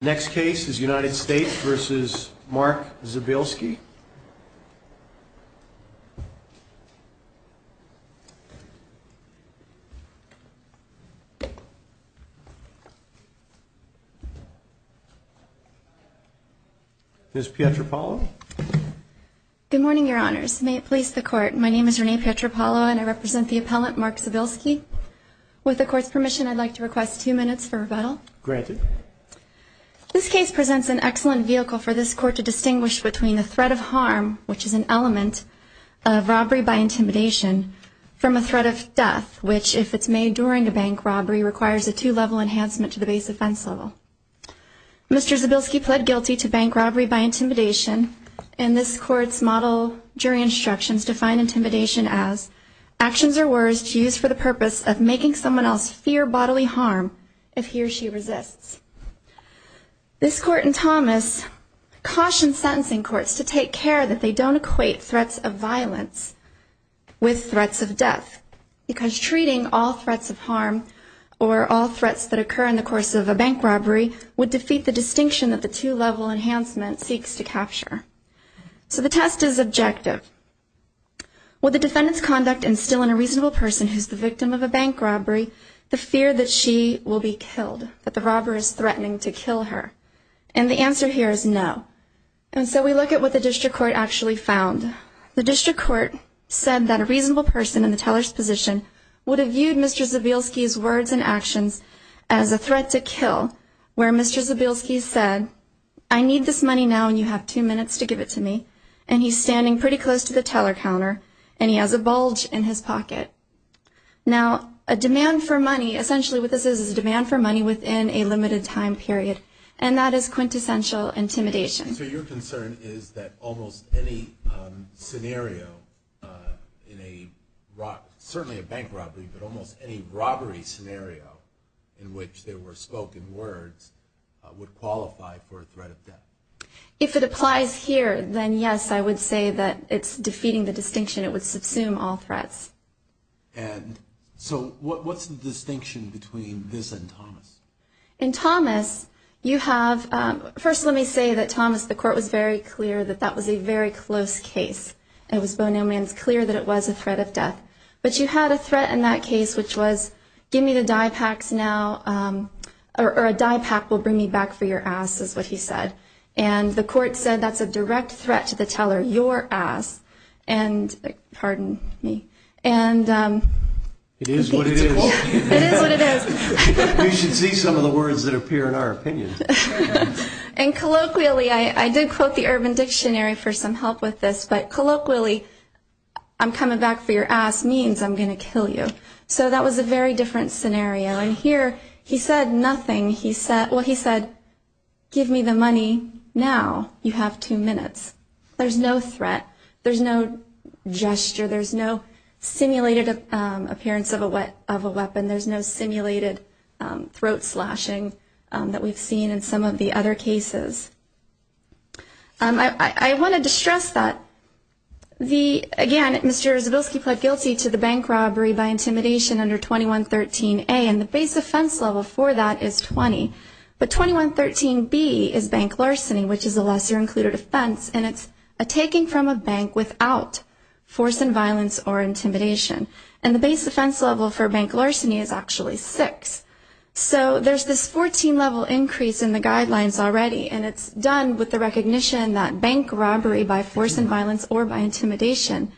Next case is United States v. Mark Zabielski Ms. Pietropalo Good morning, your honors. May it please the court, my name is Renee Pietropalo and I represent the appellant Mark Zabielski With the court's permission, I'd like to request two minutes for rebuttal. Granted. Ms. Pietropalo This case presents an excellent vehicle for this court to distinguish between the threat of harm, which is an element of robbery by intimidation, from a threat of death, which, if it's made during a bank robbery, requires a two-level enhancement to the base offense level. Mr. Zabielski pled guilty to bank robbery by intimidation and this court's model jury instructions define intimidation as actions or words used for the purpose of making someone else fear bodily harm if he or she resists. This court in Thomas cautions sentencing courts to take care that they don't equate threats of violence with threats of death because treating all threats of harm or all threats that occur in the course of a bank robbery would defeat the distinction that the two-level enhancement seeks to capture. So the test is objective. Would the defendant's conduct instill in a reasonable person who's the victim of a bank robbery the fear that she will be killed, that the robber is threatening to kill her? And the answer here is no. And so we look at what the district court actually found. The district court said that a reasonable person in the teller's position would have viewed Mr. Zabielski's words and actions as a threat to kill, where Mr. Zabielski said, I need this money now and you have two minutes to give it to me. And he's standing pretty close to the teller counter and he has a bulge in his pocket. Now, a demand for money, essentially what this is, is a demand for money within a limited time period and that is quintessential intimidation. So your concern is that almost any scenario in a, certainly a bank robbery, but almost any robbery scenario in which there were spoken words would qualify for a threat of death? If it applies here, then yes, I would say that it's defeating the distinction. It would subsume all threats. And so what's the distinction between this and Thomas? In Thomas, you have, first let me say that Thomas, the court was very clear that that was a very close case. It was Bono Man's clear that it was a threat of death. But you had a threat in that case which was, give me the dye packs now, or a dye pack will bring me back for your ass, is what he said. And the court said that's a direct threat to the teller, your ass. And, pardon me, and... It is what it is. It is what it is. You should see some of the words that appear in our opinion. And colloquially, I did quote the Urban Dictionary for some help with this, but colloquially, I'm coming back for your ass means I'm going to kill you. So that was a very different scenario. And here, he said nothing. He said, well, he said, give me the money now. You have two minutes. There's no threat. There's no gesture. There's no simulated appearance of a weapon. There's no simulated throat slashing that we've seen in some of the other cases. I wanted to stress that the, again, Mr. Zabilski pled guilty to the bank robbery by intimidation under 2113A, and the base offense level for that is 20. But 2113B is bank larceny, which is a lesser-included offense, and it's a taking from a bank without force and violence or intimidation. And the base offense level for bank larceny is actually six. So there's this 14-level increase in the guidelines already, and it's done with the recognition that bank robbery by force and violence or by intimidation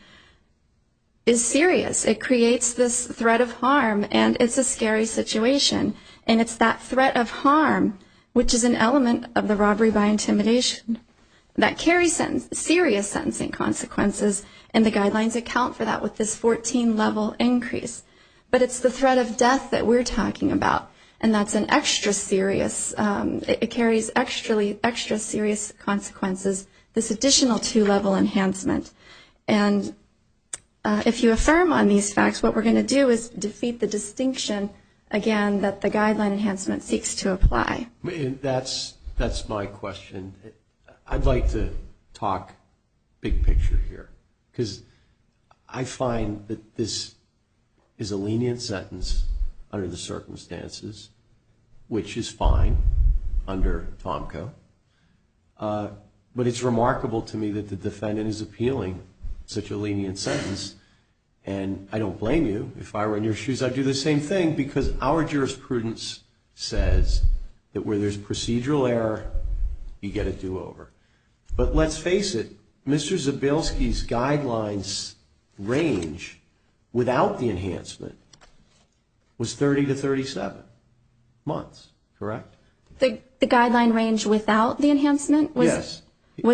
is serious. It creates this threat of harm, and it's a scary situation. And it's that threat of harm, which is an element of the robbery by intimidation, that carries serious sentencing consequences, and the guidelines account for that with this 14-level increase. But it's the threat of death that we're talking about, and that's an extra serious ‑‑ it carries extra serious consequences, this additional two-level enhancement. And if you affirm on these facts, what we're going to do is defeat the distinction, again, that the guideline enhancement seeks to apply. That's my question. I'd like to talk big picture here, because I find that this is a lenient sentence under the circumstances, which is fine under Tomco. But it's remarkable to me that the defendant is appealing such a lenient sentence, and I don't blame you. If I were in your shoes, I'd do the same thing, because our jurisprudence says that where there's procedural error, you get a do-over. But let's face it, Mr. Zabilski's guidelines range without the enhancement was 30 to 37 months, correct? The guideline range without the enhancement was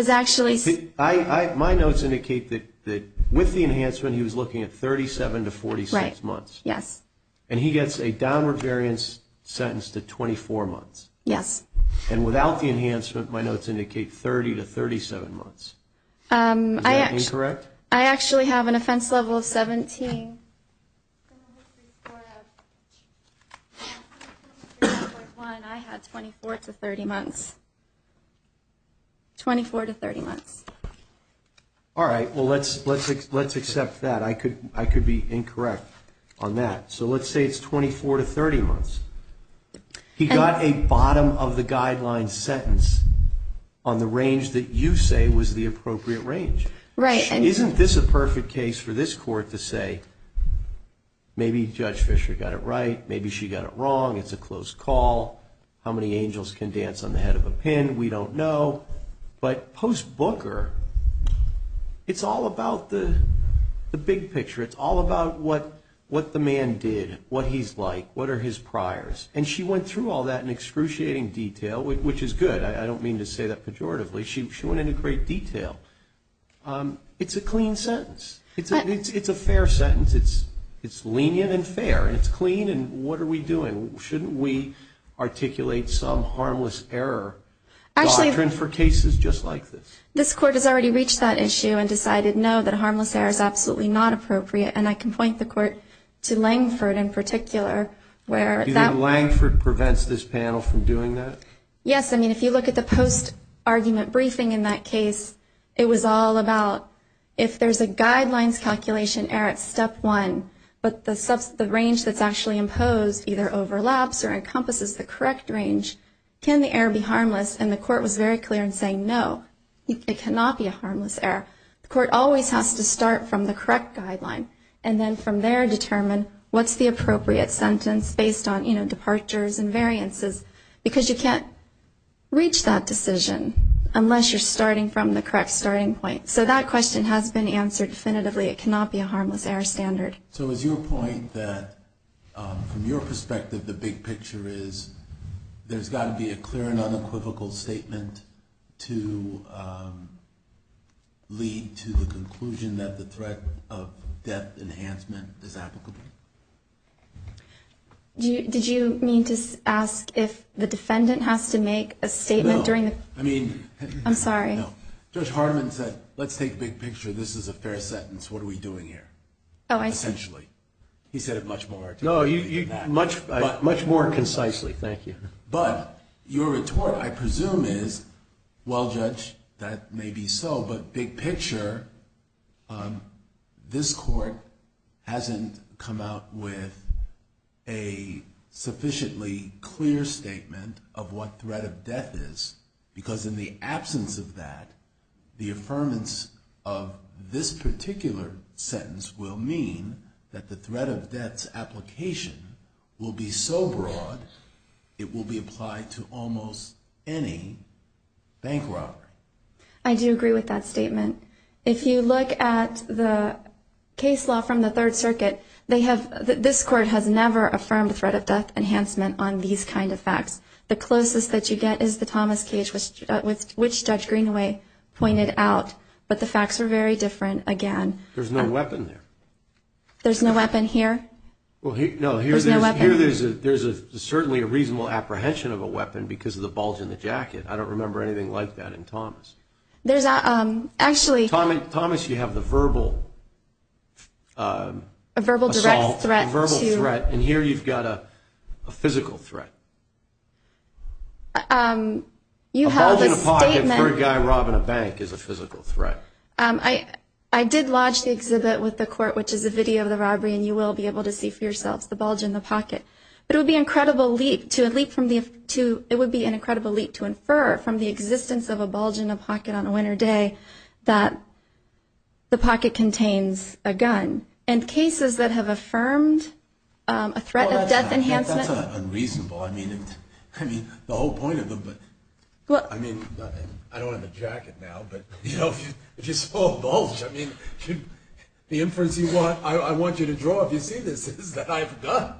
actually ‑‑ Yes. And he gets a downward variance sentence to 24 months. Yes. And without the enhancement, my notes indicate 30 to 37 months. Is that incorrect? I actually have an offense level of 17. I had 24 to 30 months. 24 to 30 months. All right, well, let's accept that. I could be incorrect on that. So let's say it's 24 to 30 months. He got a bottom of the guideline sentence on the range that you say was the appropriate range. Right. Isn't this a perfect case for this court to say, maybe Judge Fischer got it right, maybe she got it wrong, it's a close call, how many angels can dance on the head of a pen, we don't know. But post Booker, it's all about the big picture. It's all about what the man did, what he's like, what are his priors. And she went through all that in excruciating detail, which is good. I don't mean to say that pejoratively. She went into great detail. It's a clean sentence. It's a fair sentence. It's lenient and fair, and it's clean, and what are we doing? Shouldn't we articulate some harmless error doctrine for cases just like this? This court has already reached that issue and decided, no, that harmless error is absolutely not appropriate, and I can point the court to Langford in particular. Do you think Langford prevents this panel from doing that? Yes. I mean, if you look at the post-argument briefing in that case, it was all about if there's a guidelines calculation error at step one, but the range that's actually imposed either overlaps or encompasses the correct range, can the error be harmless? And the court was very clear in saying, no, it cannot be a harmless error. The court always has to start from the correct guideline, and then from there determine what's the appropriate sentence based on, you know, departures and variances, because you can't reach that decision unless you're starting from the correct starting point. So that question has been answered definitively. It cannot be a harmless error standard. So is your point that, from your perspective, the big picture is there's got to be a clear and unequivocal statement to lead to the conclusion that the threat of death enhancement is applicable? Did you mean to ask if the defendant has to make a statement during the – No. I mean – I'm sorry. No. Judge Hartman said, let's take big picture. This is a fair sentence. What are we doing here? Oh, I – Essentially. He said it much more – No, much more concisely. Thank you. But your retort, I presume, is, well, Judge, that may be so, but big picture, this Court hasn't come out with a sufficiently clear statement of what threat of death is, because in the absence of that, the affirmance of this particular sentence will mean that the threat of death's application will be so broad, it will be applied to almost any bank robbery. I do agree with that statement. If you look at the case law from the Third Circuit, they have – this Court has never affirmed threat of death enhancement on these kind of facts. The closest that you get is the Thomas Cage, which Judge Greenaway pointed out, but the facts are very different again. There's no weapon there. There's no weapon here? Well, no, here there's – There's no weapon. Here there's certainly a reasonable apprehension of a weapon because of the bulge in the jacket. I don't remember anything like that in Thomas. There's – actually – Thomas, you have the verbal – A verbal direct threat to – A verbal threat, and here you've got a physical threat. A bulge in the pocket for a guy robbing a bank is a physical threat. I did lodge the exhibit with the Court, which is a video of the robbery, and you will be able to see for yourselves the bulge in the pocket. But it would be an incredible leap to – it would be an incredible leap to infer from the existence of a bulge in a pocket on a winter day that the pocket contains a gun. And cases that have affirmed a threat of death enhancement – Well, that's unreasonable. I mean, the whole point of them – I mean, I don't have a jacket now, but if you saw a bulge, I mean, the inference you want – I want you to draw if you see this is that I have a gun.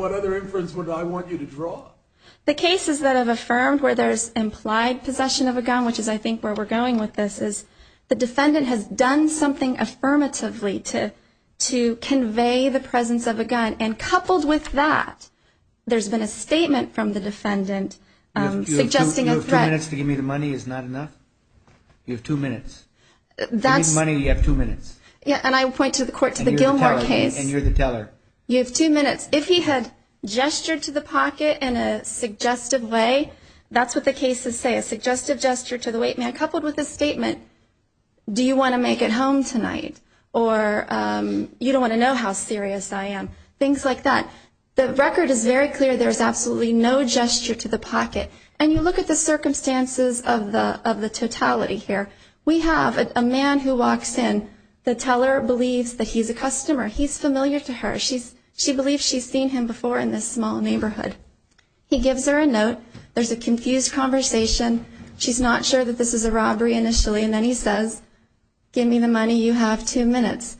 What other inference would I want you to draw? The cases that have affirmed where there's implied possession of a gun, which is I think where we're going with this, is the defendant has done something affirmatively to convey the presence of a gun. And coupled with that, there's been a statement from the defendant suggesting a threat – You have two minutes to give me the money is not enough? You have two minutes. That's – Give me the money and you have two minutes. Yeah, and I point to the court – to the Gilmore case – And you're the teller. You have two minutes. If he had gestured to the pocket in a suggestive way – that's what the cases say, a suggestive gesture to the wait man coupled with a statement – Do you want to make it home tonight? Or you don't want to know how serious I am. Things like that. The record is very clear. There's absolutely no gesture to the pocket. And you look at the circumstances of the totality here. We have a man who walks in. The teller believes that he's a customer. He's familiar to her. She believes she's seen him before in this small neighborhood. He gives her a note. There's a confused conversation. She's not sure that this is a robbery initially. And then he says, give me the money, you have two minutes.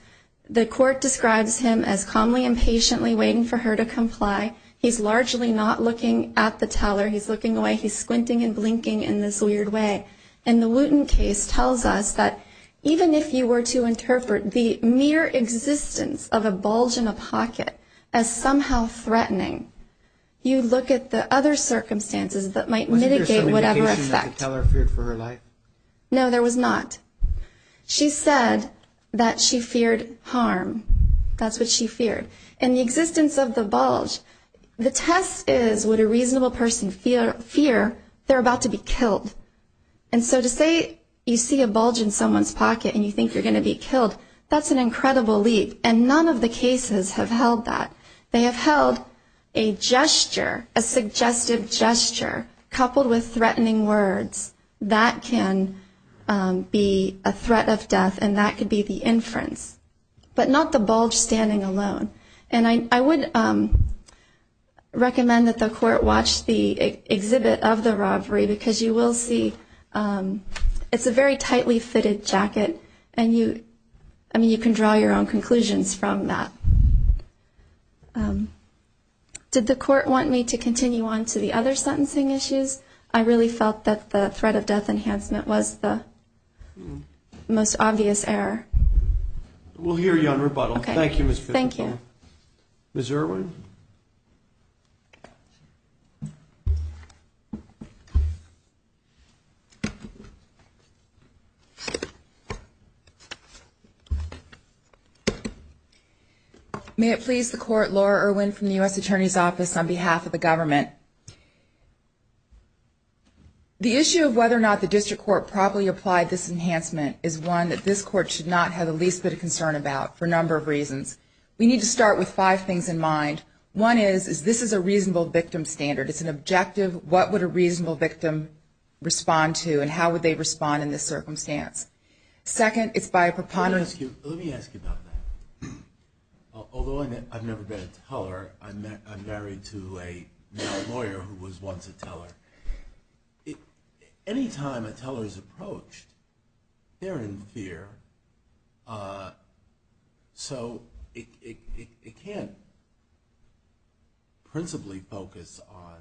The court describes him as calmly and patiently waiting for her to comply. He's largely not looking at the teller. He's looking away. He's squinting and blinking in this weird way. And the Wooten case tells us that even if you were to interpret the mere existence of a bulge in a pocket as somehow threatening, you look at the other circumstances that might mitigate whatever effect. Was there some indication that the teller feared for her life? No, there was not. She said that she feared harm. That's what she feared. And the existence of the bulge, the test is would a reasonable person fear they're about to be killed? And so to say you see a bulge in someone's pocket and you think you're going to be killed, that's an incredible leap. And none of the cases have held that. They have held a gesture, a suggestive gesture, coupled with threatening words. That can be a threat of death, and that could be the inference. But not the bulge standing alone. And I would recommend that the court watch the exhibit of the robbery because you will see it's a very tightly fitted jacket, and you can draw your own conclusions from that. Did the court want me to continue on to the other sentencing issues? I really felt that the threat of death enhancement was the most obvious error. We'll hear you on rebuttal. Thank you, Ms. Fitzgerald. Thank you. Ms. Irwin? May it please the court, Laura Irwin from the U.S. Attorney's Office on behalf of the government. The issue of whether or not the district court properly applied this enhancement is one that this court should not have the least bit of concern about for a number of reasons. We need to start with five things in mind. One is this is a reasonable victim standard. It's an objective. What would a reasonable victim respond to, and how would they respond in this circumstance? Second, it's by a preponderance. Let me ask you about that. Although I've never been a teller, I'm married to a male lawyer who was once a teller. Any time a teller is approached, they're in fear, so it can't principally focus on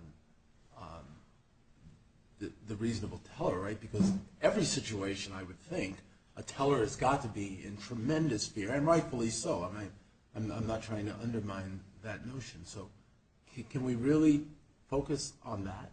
the reasonable teller, right? Because every situation, I would think, a teller has got to be in tremendous fear, and rightfully so. I'm not trying to undermine that notion. So can we really focus on that?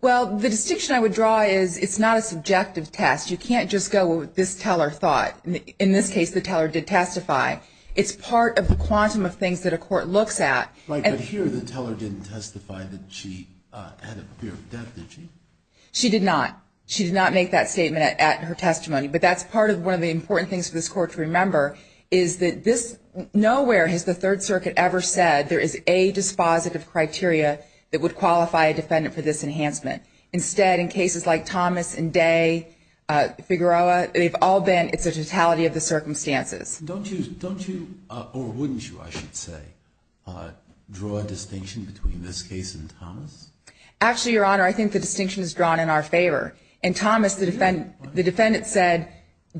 Well, the distinction I would draw is it's not a subjective test. You can't just go with this teller thought. In this case, the teller did testify. It's part of the quantum of things that a court looks at. Right, but here the teller didn't testify that she had a fear of death, did she? She did not. She did not make that statement at her testimony. But that's part of one of the important things for this court to remember is that nowhere has the Third Circuit ever said there is a dispositive criteria that would qualify a defendant for this enhancement. Instead, in cases like Thomas and Day, Figueroa, they've all been it's a totality of the circumstances. Don't you, or wouldn't you, I should say, draw a distinction between this case and Thomas? Actually, Your Honor, I think the distinction is drawn in our favor. In Thomas, the defendant said,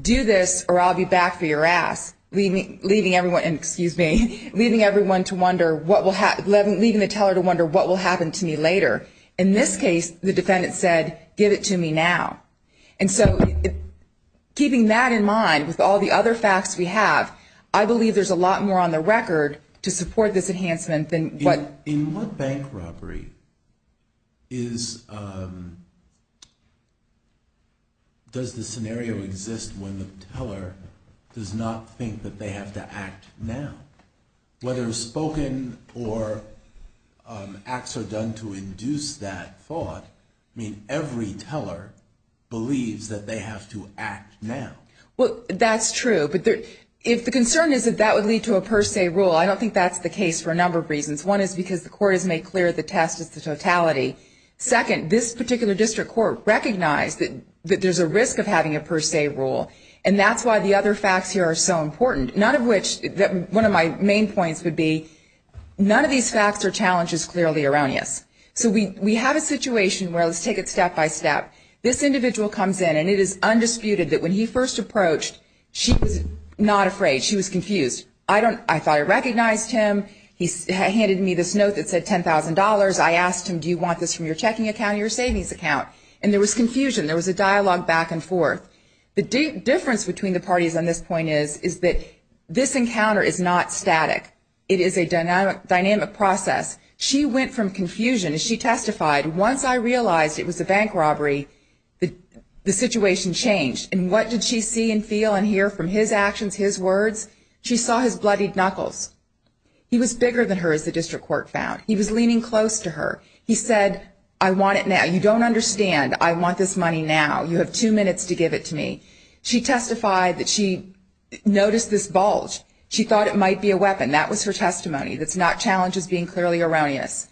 do this or I'll be back for your ass, leaving everyone to wonder what will happen to me later. In this case, the defendant said, give it to me now. And so keeping that in mind with all the other facts we have, I believe there's a lot more on the record to support this enhancement than what. In what bank robbery does the scenario exist when the teller does not think that they have to act now? Whether it's spoken or acts are done to induce that thought, I mean, every teller believes that they have to act now. Well, that's true. But if the concern is that that would lead to a per se rule, I don't think that's the case for a number of reasons. One is because the court has made clear the test is the totality. Second, this particular district court recognized that there's a risk of having a per se rule, and that's why the other facts here are so important. One of my main points would be none of these facts are challenges clearly around us. So we have a situation where let's take it step by step. This individual comes in, and it is undisputed that when he first approached, she was not afraid. She was confused. I thought I recognized him. He handed me this note that said $10,000. I asked him, do you want this from your checking account or your savings account? And there was confusion. There was a dialogue back and forth. The difference between the parties on this point is that this encounter is not static. It is a dynamic process. She went from confusion. As she testified, once I realized it was a bank robbery, the situation changed. And what did she see and feel and hear from his actions, his words? She saw his bloodied knuckles. He was bigger than her, as the district court found. He was leaning close to her. He said, I want it now. You don't understand. I want this money now. You have two minutes to give it to me. She testified that she noticed this bulge. She thought it might be a weapon. That was her testimony. That's not challenges being clearly around us.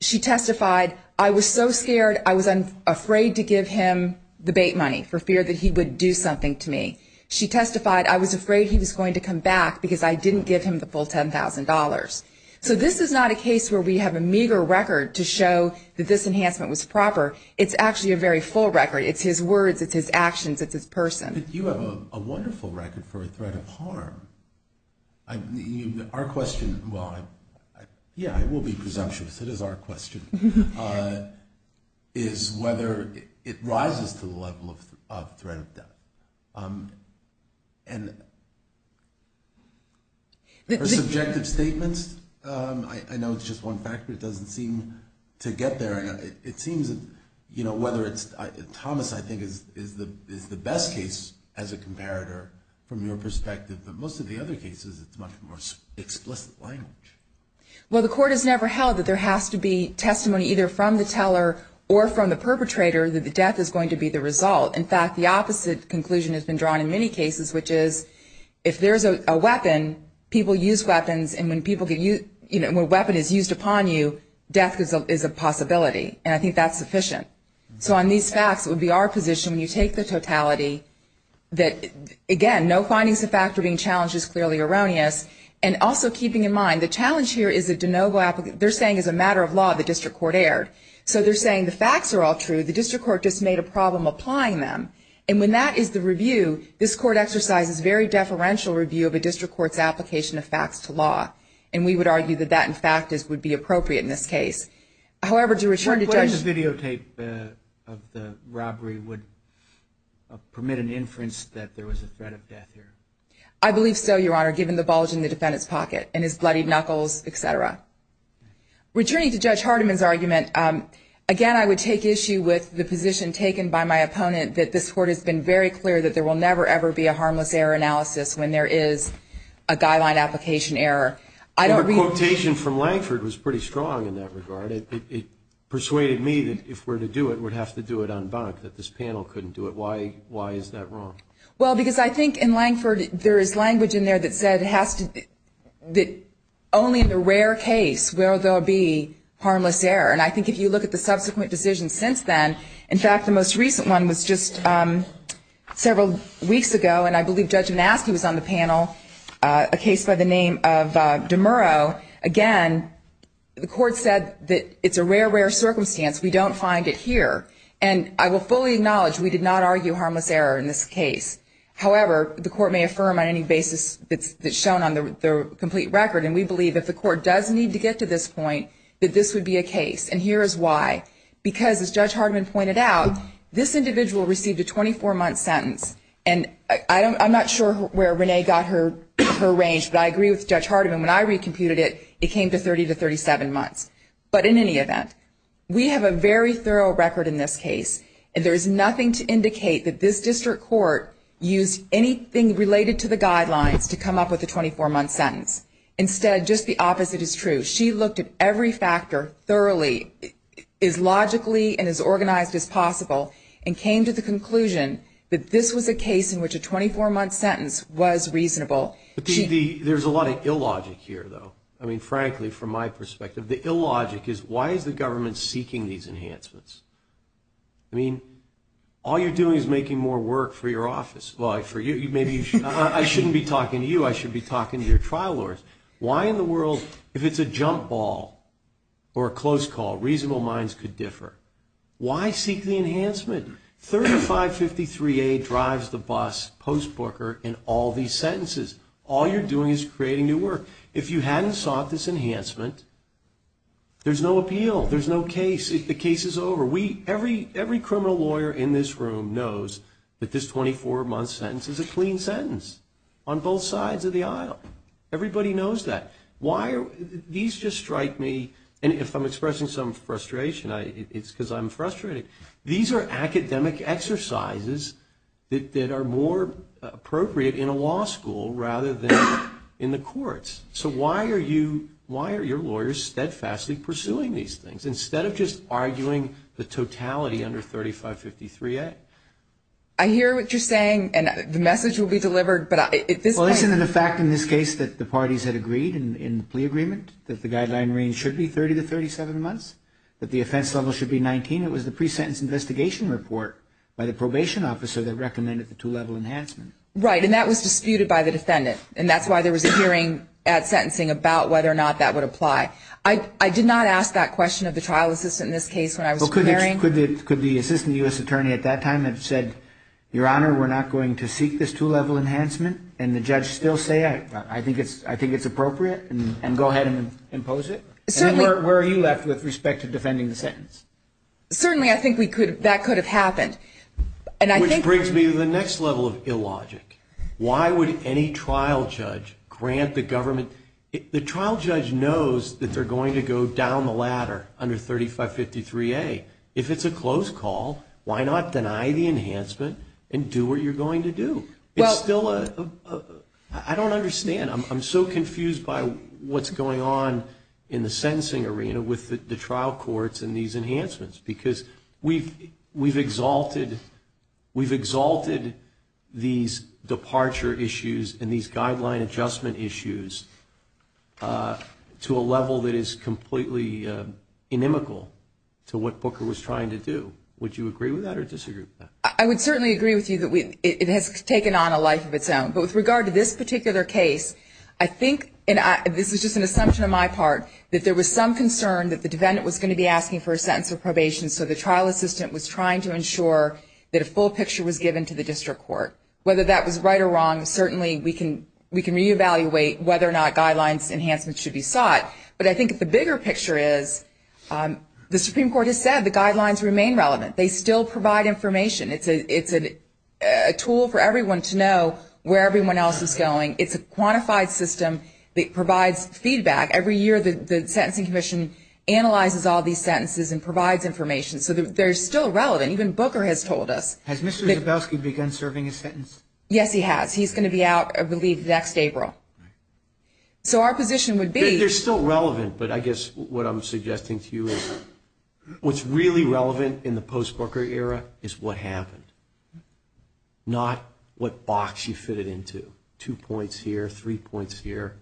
She testified, I was so scared I was afraid to give him the bait money for fear that he would do something to me. She testified, I was afraid he was going to come back because I didn't give him the full $10,000. So this is not a case where we have a meager record to show that this enhancement was proper. It's actually a very full record. It's his words. It's his actions. It's his person. You have a wonderful record for a threat of harm. Our question, well, yeah, I will be presumptuous. It is our question, is whether it rises to the level of threat of death. And for subjective statements, I know it's just one factor. It doesn't seem to get there. It seems, you know, whether it's Thomas, I think, is the best case as a comparator from your perspective. But most of the other cases, it's much more explicit language. Well, the court has never held that there has to be testimony either from the teller or from the perpetrator that the death is going to be the result. In fact, the opposite conclusion has been drawn in many cases, which is if there's a weapon, people use weapons, and when a weapon is used upon you, death is a possibility. And I think that's sufficient. So on these facts, it would be our position when you take the totality that, again, no findings of fact are being challenged is clearly erroneous. And also keeping in mind, the challenge here is a de novo application. They're saying as a matter of law, the district court erred. So they're saying the facts are all true. The district court just made a problem applying them. And when that is the review, this court exercises very deferential review of a district court's application of facts to law. And we would argue that that, in fact, would be appropriate in this case. However, to return to Judge. What is the videotape of the robbery would permit an inference that there was a threat of death here? I believe so, Your Honor, given the bulge in the defendant's pocket and his bloodied knuckles, et cetera. Returning to Judge Hardiman's argument, again, I would take issue with the position taken by my opponent that this court has been very clear that there will never, ever be a harmless error analysis when there is a guideline application error. Your quotation from Langford was pretty strong in that regard. It persuaded me that if we're to do it, we'd have to do it en banc, that this panel couldn't do it. Why is that wrong? Well, because I think in Langford, there is language in there that said it has to be only in the rare case where there will be harmless error. And I think if you look at the subsequent decisions since then, in fact, the most recent one was just several weeks ago, and I believe Judge Mastey was on the panel, a case by the name of DeMuro. Again, the court said that it's a rare, rare circumstance. We don't find it here. And I will fully acknowledge we did not argue harmless error in this case. However, the court may affirm on any basis that's shown on the complete record, and we believe if the court does need to get to this point, that this would be a case. And here is why. Because, as Judge Hardiman pointed out, this individual received a 24-month sentence. And I'm not sure where Renee got her range, but I agree with Judge Hardiman. When I recomputed it, it came to 30 to 37 months. But in any event, we have a very thorough record in this case, and there is nothing to indicate that this district court used anything related to the guidelines to come up with a 24-month sentence. Instead, just the opposite is true. She looked at every factor thoroughly, as logically and as organized as possible, and came to the conclusion that this was a case in which a 24-month sentence was reasonable. There's a lot of illogic here, though. I mean, frankly, from my perspective, the illogic is why is the government seeking these enhancements? I mean, all you're doing is making more work for your office. Well, I shouldn't be talking to you. I should be talking to your trial lawyers. Why in the world, if it's a jump ball or a close call, reasonable minds could differ? Why seek the enhancement? 3553A drives the bus post-booker in all these sentences. All you're doing is creating new work. If you hadn't sought this enhancement, there's no appeal. There's no case. The case is over. Every criminal lawyer in this room knows that this 24-month sentence is a clean sentence on both sides of the aisle. Everybody knows that. These just strike me, and if I'm expressing some frustration, it's because I'm frustrated. These are academic exercises that are more appropriate in a law school rather than in the courts. So why are your lawyers steadfastly pursuing these things instead of just arguing the totality under 3553A? I hear what you're saying, and the message will be delivered. Well, isn't it a fact in this case that the parties had agreed in the plea agreement that the guideline range should be 30 to 37 months, that the offense level should be 19? It was the pre-sentence investigation report by the probation officer that recommended the two-level enhancement. Right, and that was disputed by the defendant, and that's why there was a hearing at sentencing about whether or not that would apply. I did not ask that question of the trial assistant in this case when I was preparing. Could the assistant U.S. attorney at that time have said, Your Honor, we're not going to seek this two-level enhancement, and the judge still say, I think it's appropriate, and go ahead and impose it? Certainly. And then where are you left with respect to defending the sentence? Certainly, I think that could have happened. Which brings me to the next level of illogic. Why would any trial judge grant the government – the trial judge knows that they're going to go down the ladder under 3553A. If it's a close call, why not deny the enhancement and do what you're going to do? It's still a – I don't understand. I'm so confused by what's going on in the sentencing arena with the trial courts and these enhancements, because we've – we've exalted – we've exalted these departure issues and these guideline adjustment issues to a level that is completely inimical to what Booker was trying to do. Would you agree with that or disagree with that? I would certainly agree with you that it has taken on a life of its own. But with regard to this particular case, I think – and this is just an assumption on my part – that there was some concern that the defendant was going to be asking for a sentence of probation, so the trial assistant was trying to ensure that a full picture was given to the district court. Whether that was right or wrong, certainly we can re-evaluate whether or not guidelines enhancements should be sought. But I think the bigger picture is the Supreme Court has said the guidelines remain relevant. They still provide information. It's a tool for everyone to know where everyone else is going. It's a quantified system that provides feedback. Every year the Sentencing Commission analyzes all these sentences and provides information. So they're still relevant. Even Booker has told us. Has Mr. Zabowski begun serving his sentence? Yes, he has. He's going to be out, I believe, next April. So our position would be – They're still relevant, but I guess what I'm suggesting to you is what's really relevant in the post-Booker era is what happened, not what box you fit it into. Two points here, three points here.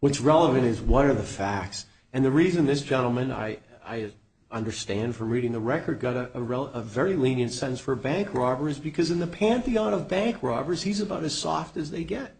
What's relevant is what are the facts? And the reason this gentleman, I understand from reading the record, got a very lenient sentence for bank robbery is because in the pantheon of bank robberies, he's about as soft as they get.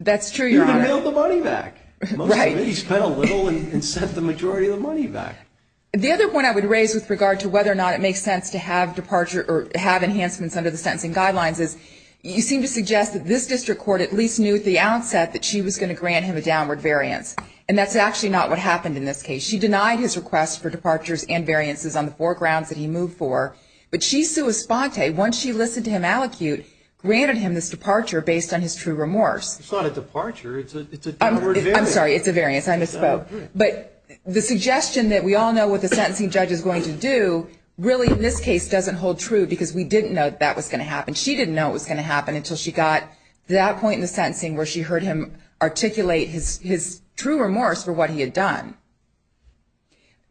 That's true, Your Honor. He even bailed the money back. Right. He spent a little and sent the majority of the money back. The other point I would raise with regard to whether or not it makes sense to have departure or have enhancements under the sentencing guidelines is you seem to suggest that this district court at least knew at the outset that she was going to grant him a downward variance, and that's actually not what happened in this case. She denied his request for departures and variances on the four grounds that he moved for, but she, sua sponte, once she listened to him allocute, granted him this departure based on his true remorse. It's not a departure. It's a downward variance. I'm sorry. It's a variance. I misspoke. But the suggestion that we all know what the sentencing judge is going to do really, in this case, doesn't hold true because we didn't know that that was going to happen. And she didn't know it was going to happen until she got to that point in the sentencing where she heard him articulate his true remorse for what he had done.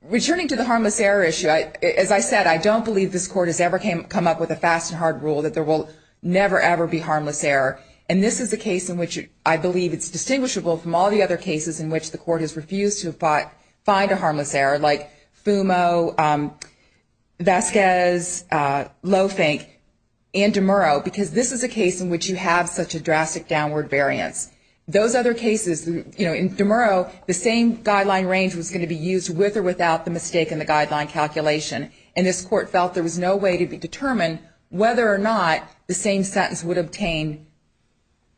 Returning to the harmless error issue, as I said, I don't believe this court has ever come up with a fast and hard rule that there will never, ever be harmless error. And this is a case in which I believe it's distinguishable from all the other cases in which the court has refused to find a harmless error, like Fumo, Vasquez, Lofink, and DeMurro, because this is a case in which you have such a drastic downward variance. Those other cases, you know, in DeMurro, the same guideline range was going to be used with or without the mistake in the guideline calculation, and this court felt there was no way to determine whether or not the same sentence would obtain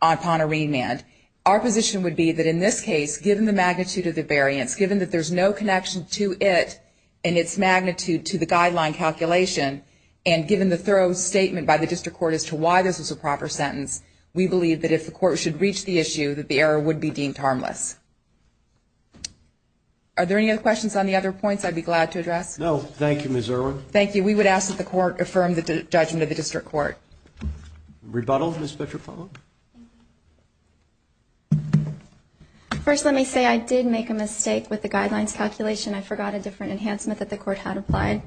upon a remand. Our position would be that in this case, given the magnitude of the variance, given that there's no connection to it and its magnitude to the guideline calculation, and given the thorough statement by the district court as to why this was a proper sentence, we believe that if the court should reach the issue, that the error would be deemed harmless. Are there any other questions on the other points I'd be glad to address? No. Thank you, Ms. Erwin. Thank you. We would ask that the court affirm the judgment of the district court. Rebuttal, Ms. Petropavlov? First, let me say I did make a mistake with the guidelines calculation. I forgot a different enhancement that the court had applied.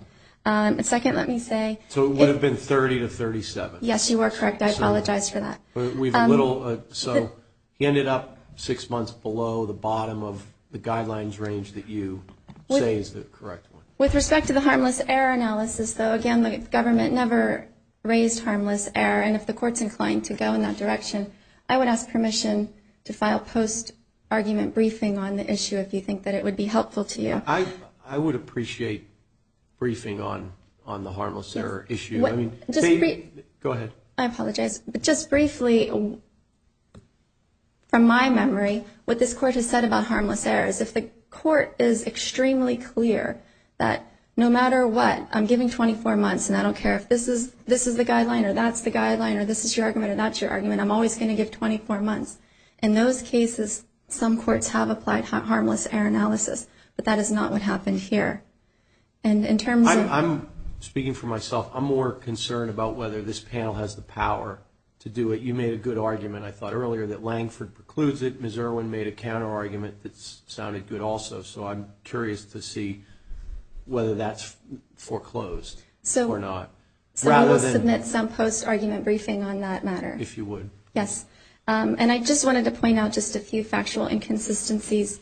Second, let me say- So it would have been 30 to 37. Yes, you are correct. I apologize for that. So he ended up six months below the bottom of the guidelines range that you say is the correct one. With respect to the harmless error analysis, though, again, the government never raised harmless error, and if the court's inclined to go in that direction, I would ask permission to file post-argument briefing on the issue if you think that it would be helpful to you. I would appreciate briefing on the harmless error issue. Go ahead. I apologize. Just briefly, from my memory, what this court has said about harmless error is if the court is extremely clear that no matter what, I'm giving 24 months, and I don't care if this is the guideline or that's the guideline or this is your argument or that's your argument, I'm always going to give 24 months. In those cases, some courts have applied harmless error analysis, but that is not what happened here. And in terms of- I'm speaking for myself. I'm more concerned about whether this panel has the power to do it. You made a good argument, I thought, earlier that Langford precludes it. Ms. Irwin made a counterargument that sounded good also, so I'm curious to see whether that's foreclosed or not. I will submit some post-argument briefing on that matter. If you would. Yes. And I just wanted to point out just a few factual inconsistencies.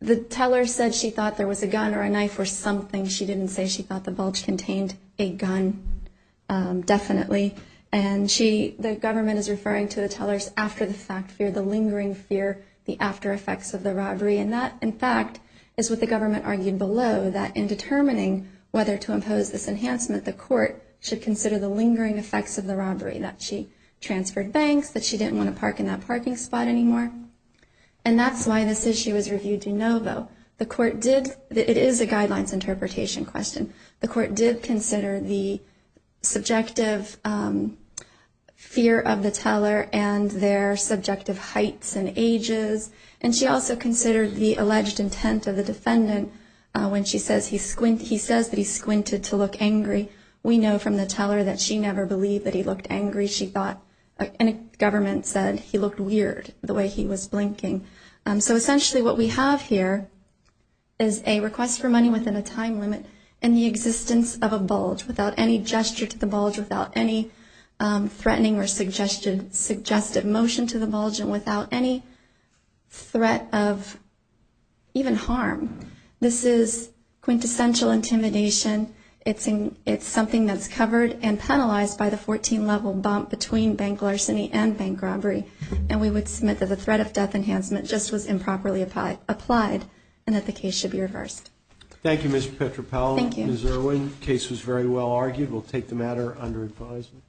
The teller said she thought there was a gun or a knife or something. She didn't say she thought the bulge contained a gun, definitely. And she-the government is referring to the teller's after-the-fact fear, the lingering fear, the after-effects of the robbery. And that, in fact, is what the government argued below, that in determining whether to impose this enhancement, the court should consider the lingering effects of the robbery, that she transferred banks, that she didn't want to park in that parking spot anymore. And that's why this issue was reviewed de novo. The court did-it is a guidelines interpretation question. The court did consider the subjective fear of the teller and their subjective heights and ages. And she also considered the alleged intent of the defendant when she says he squinted-he says that he squinted to look angry. We know from the teller that she never believed that he looked angry. She thought-and the government said he looked weird, the way he was blinking. So essentially what we have here is a request for money within a time limit, and the existence of a bulge without any gesture to the bulge, without any threatening or suggestive motion to the bulge, and without any threat of even harm. This is quintessential intimidation. It's something that's covered and penalized by the 14-level bump between bank larceny and bank robbery. And we would submit that the threat of death enhancement just was improperly applied, and that the case should be reversed. Thank you, Mr. Petropavlov. Thank you. Ms. Irwin, the case was very well argued. We'll take the matter under advisement.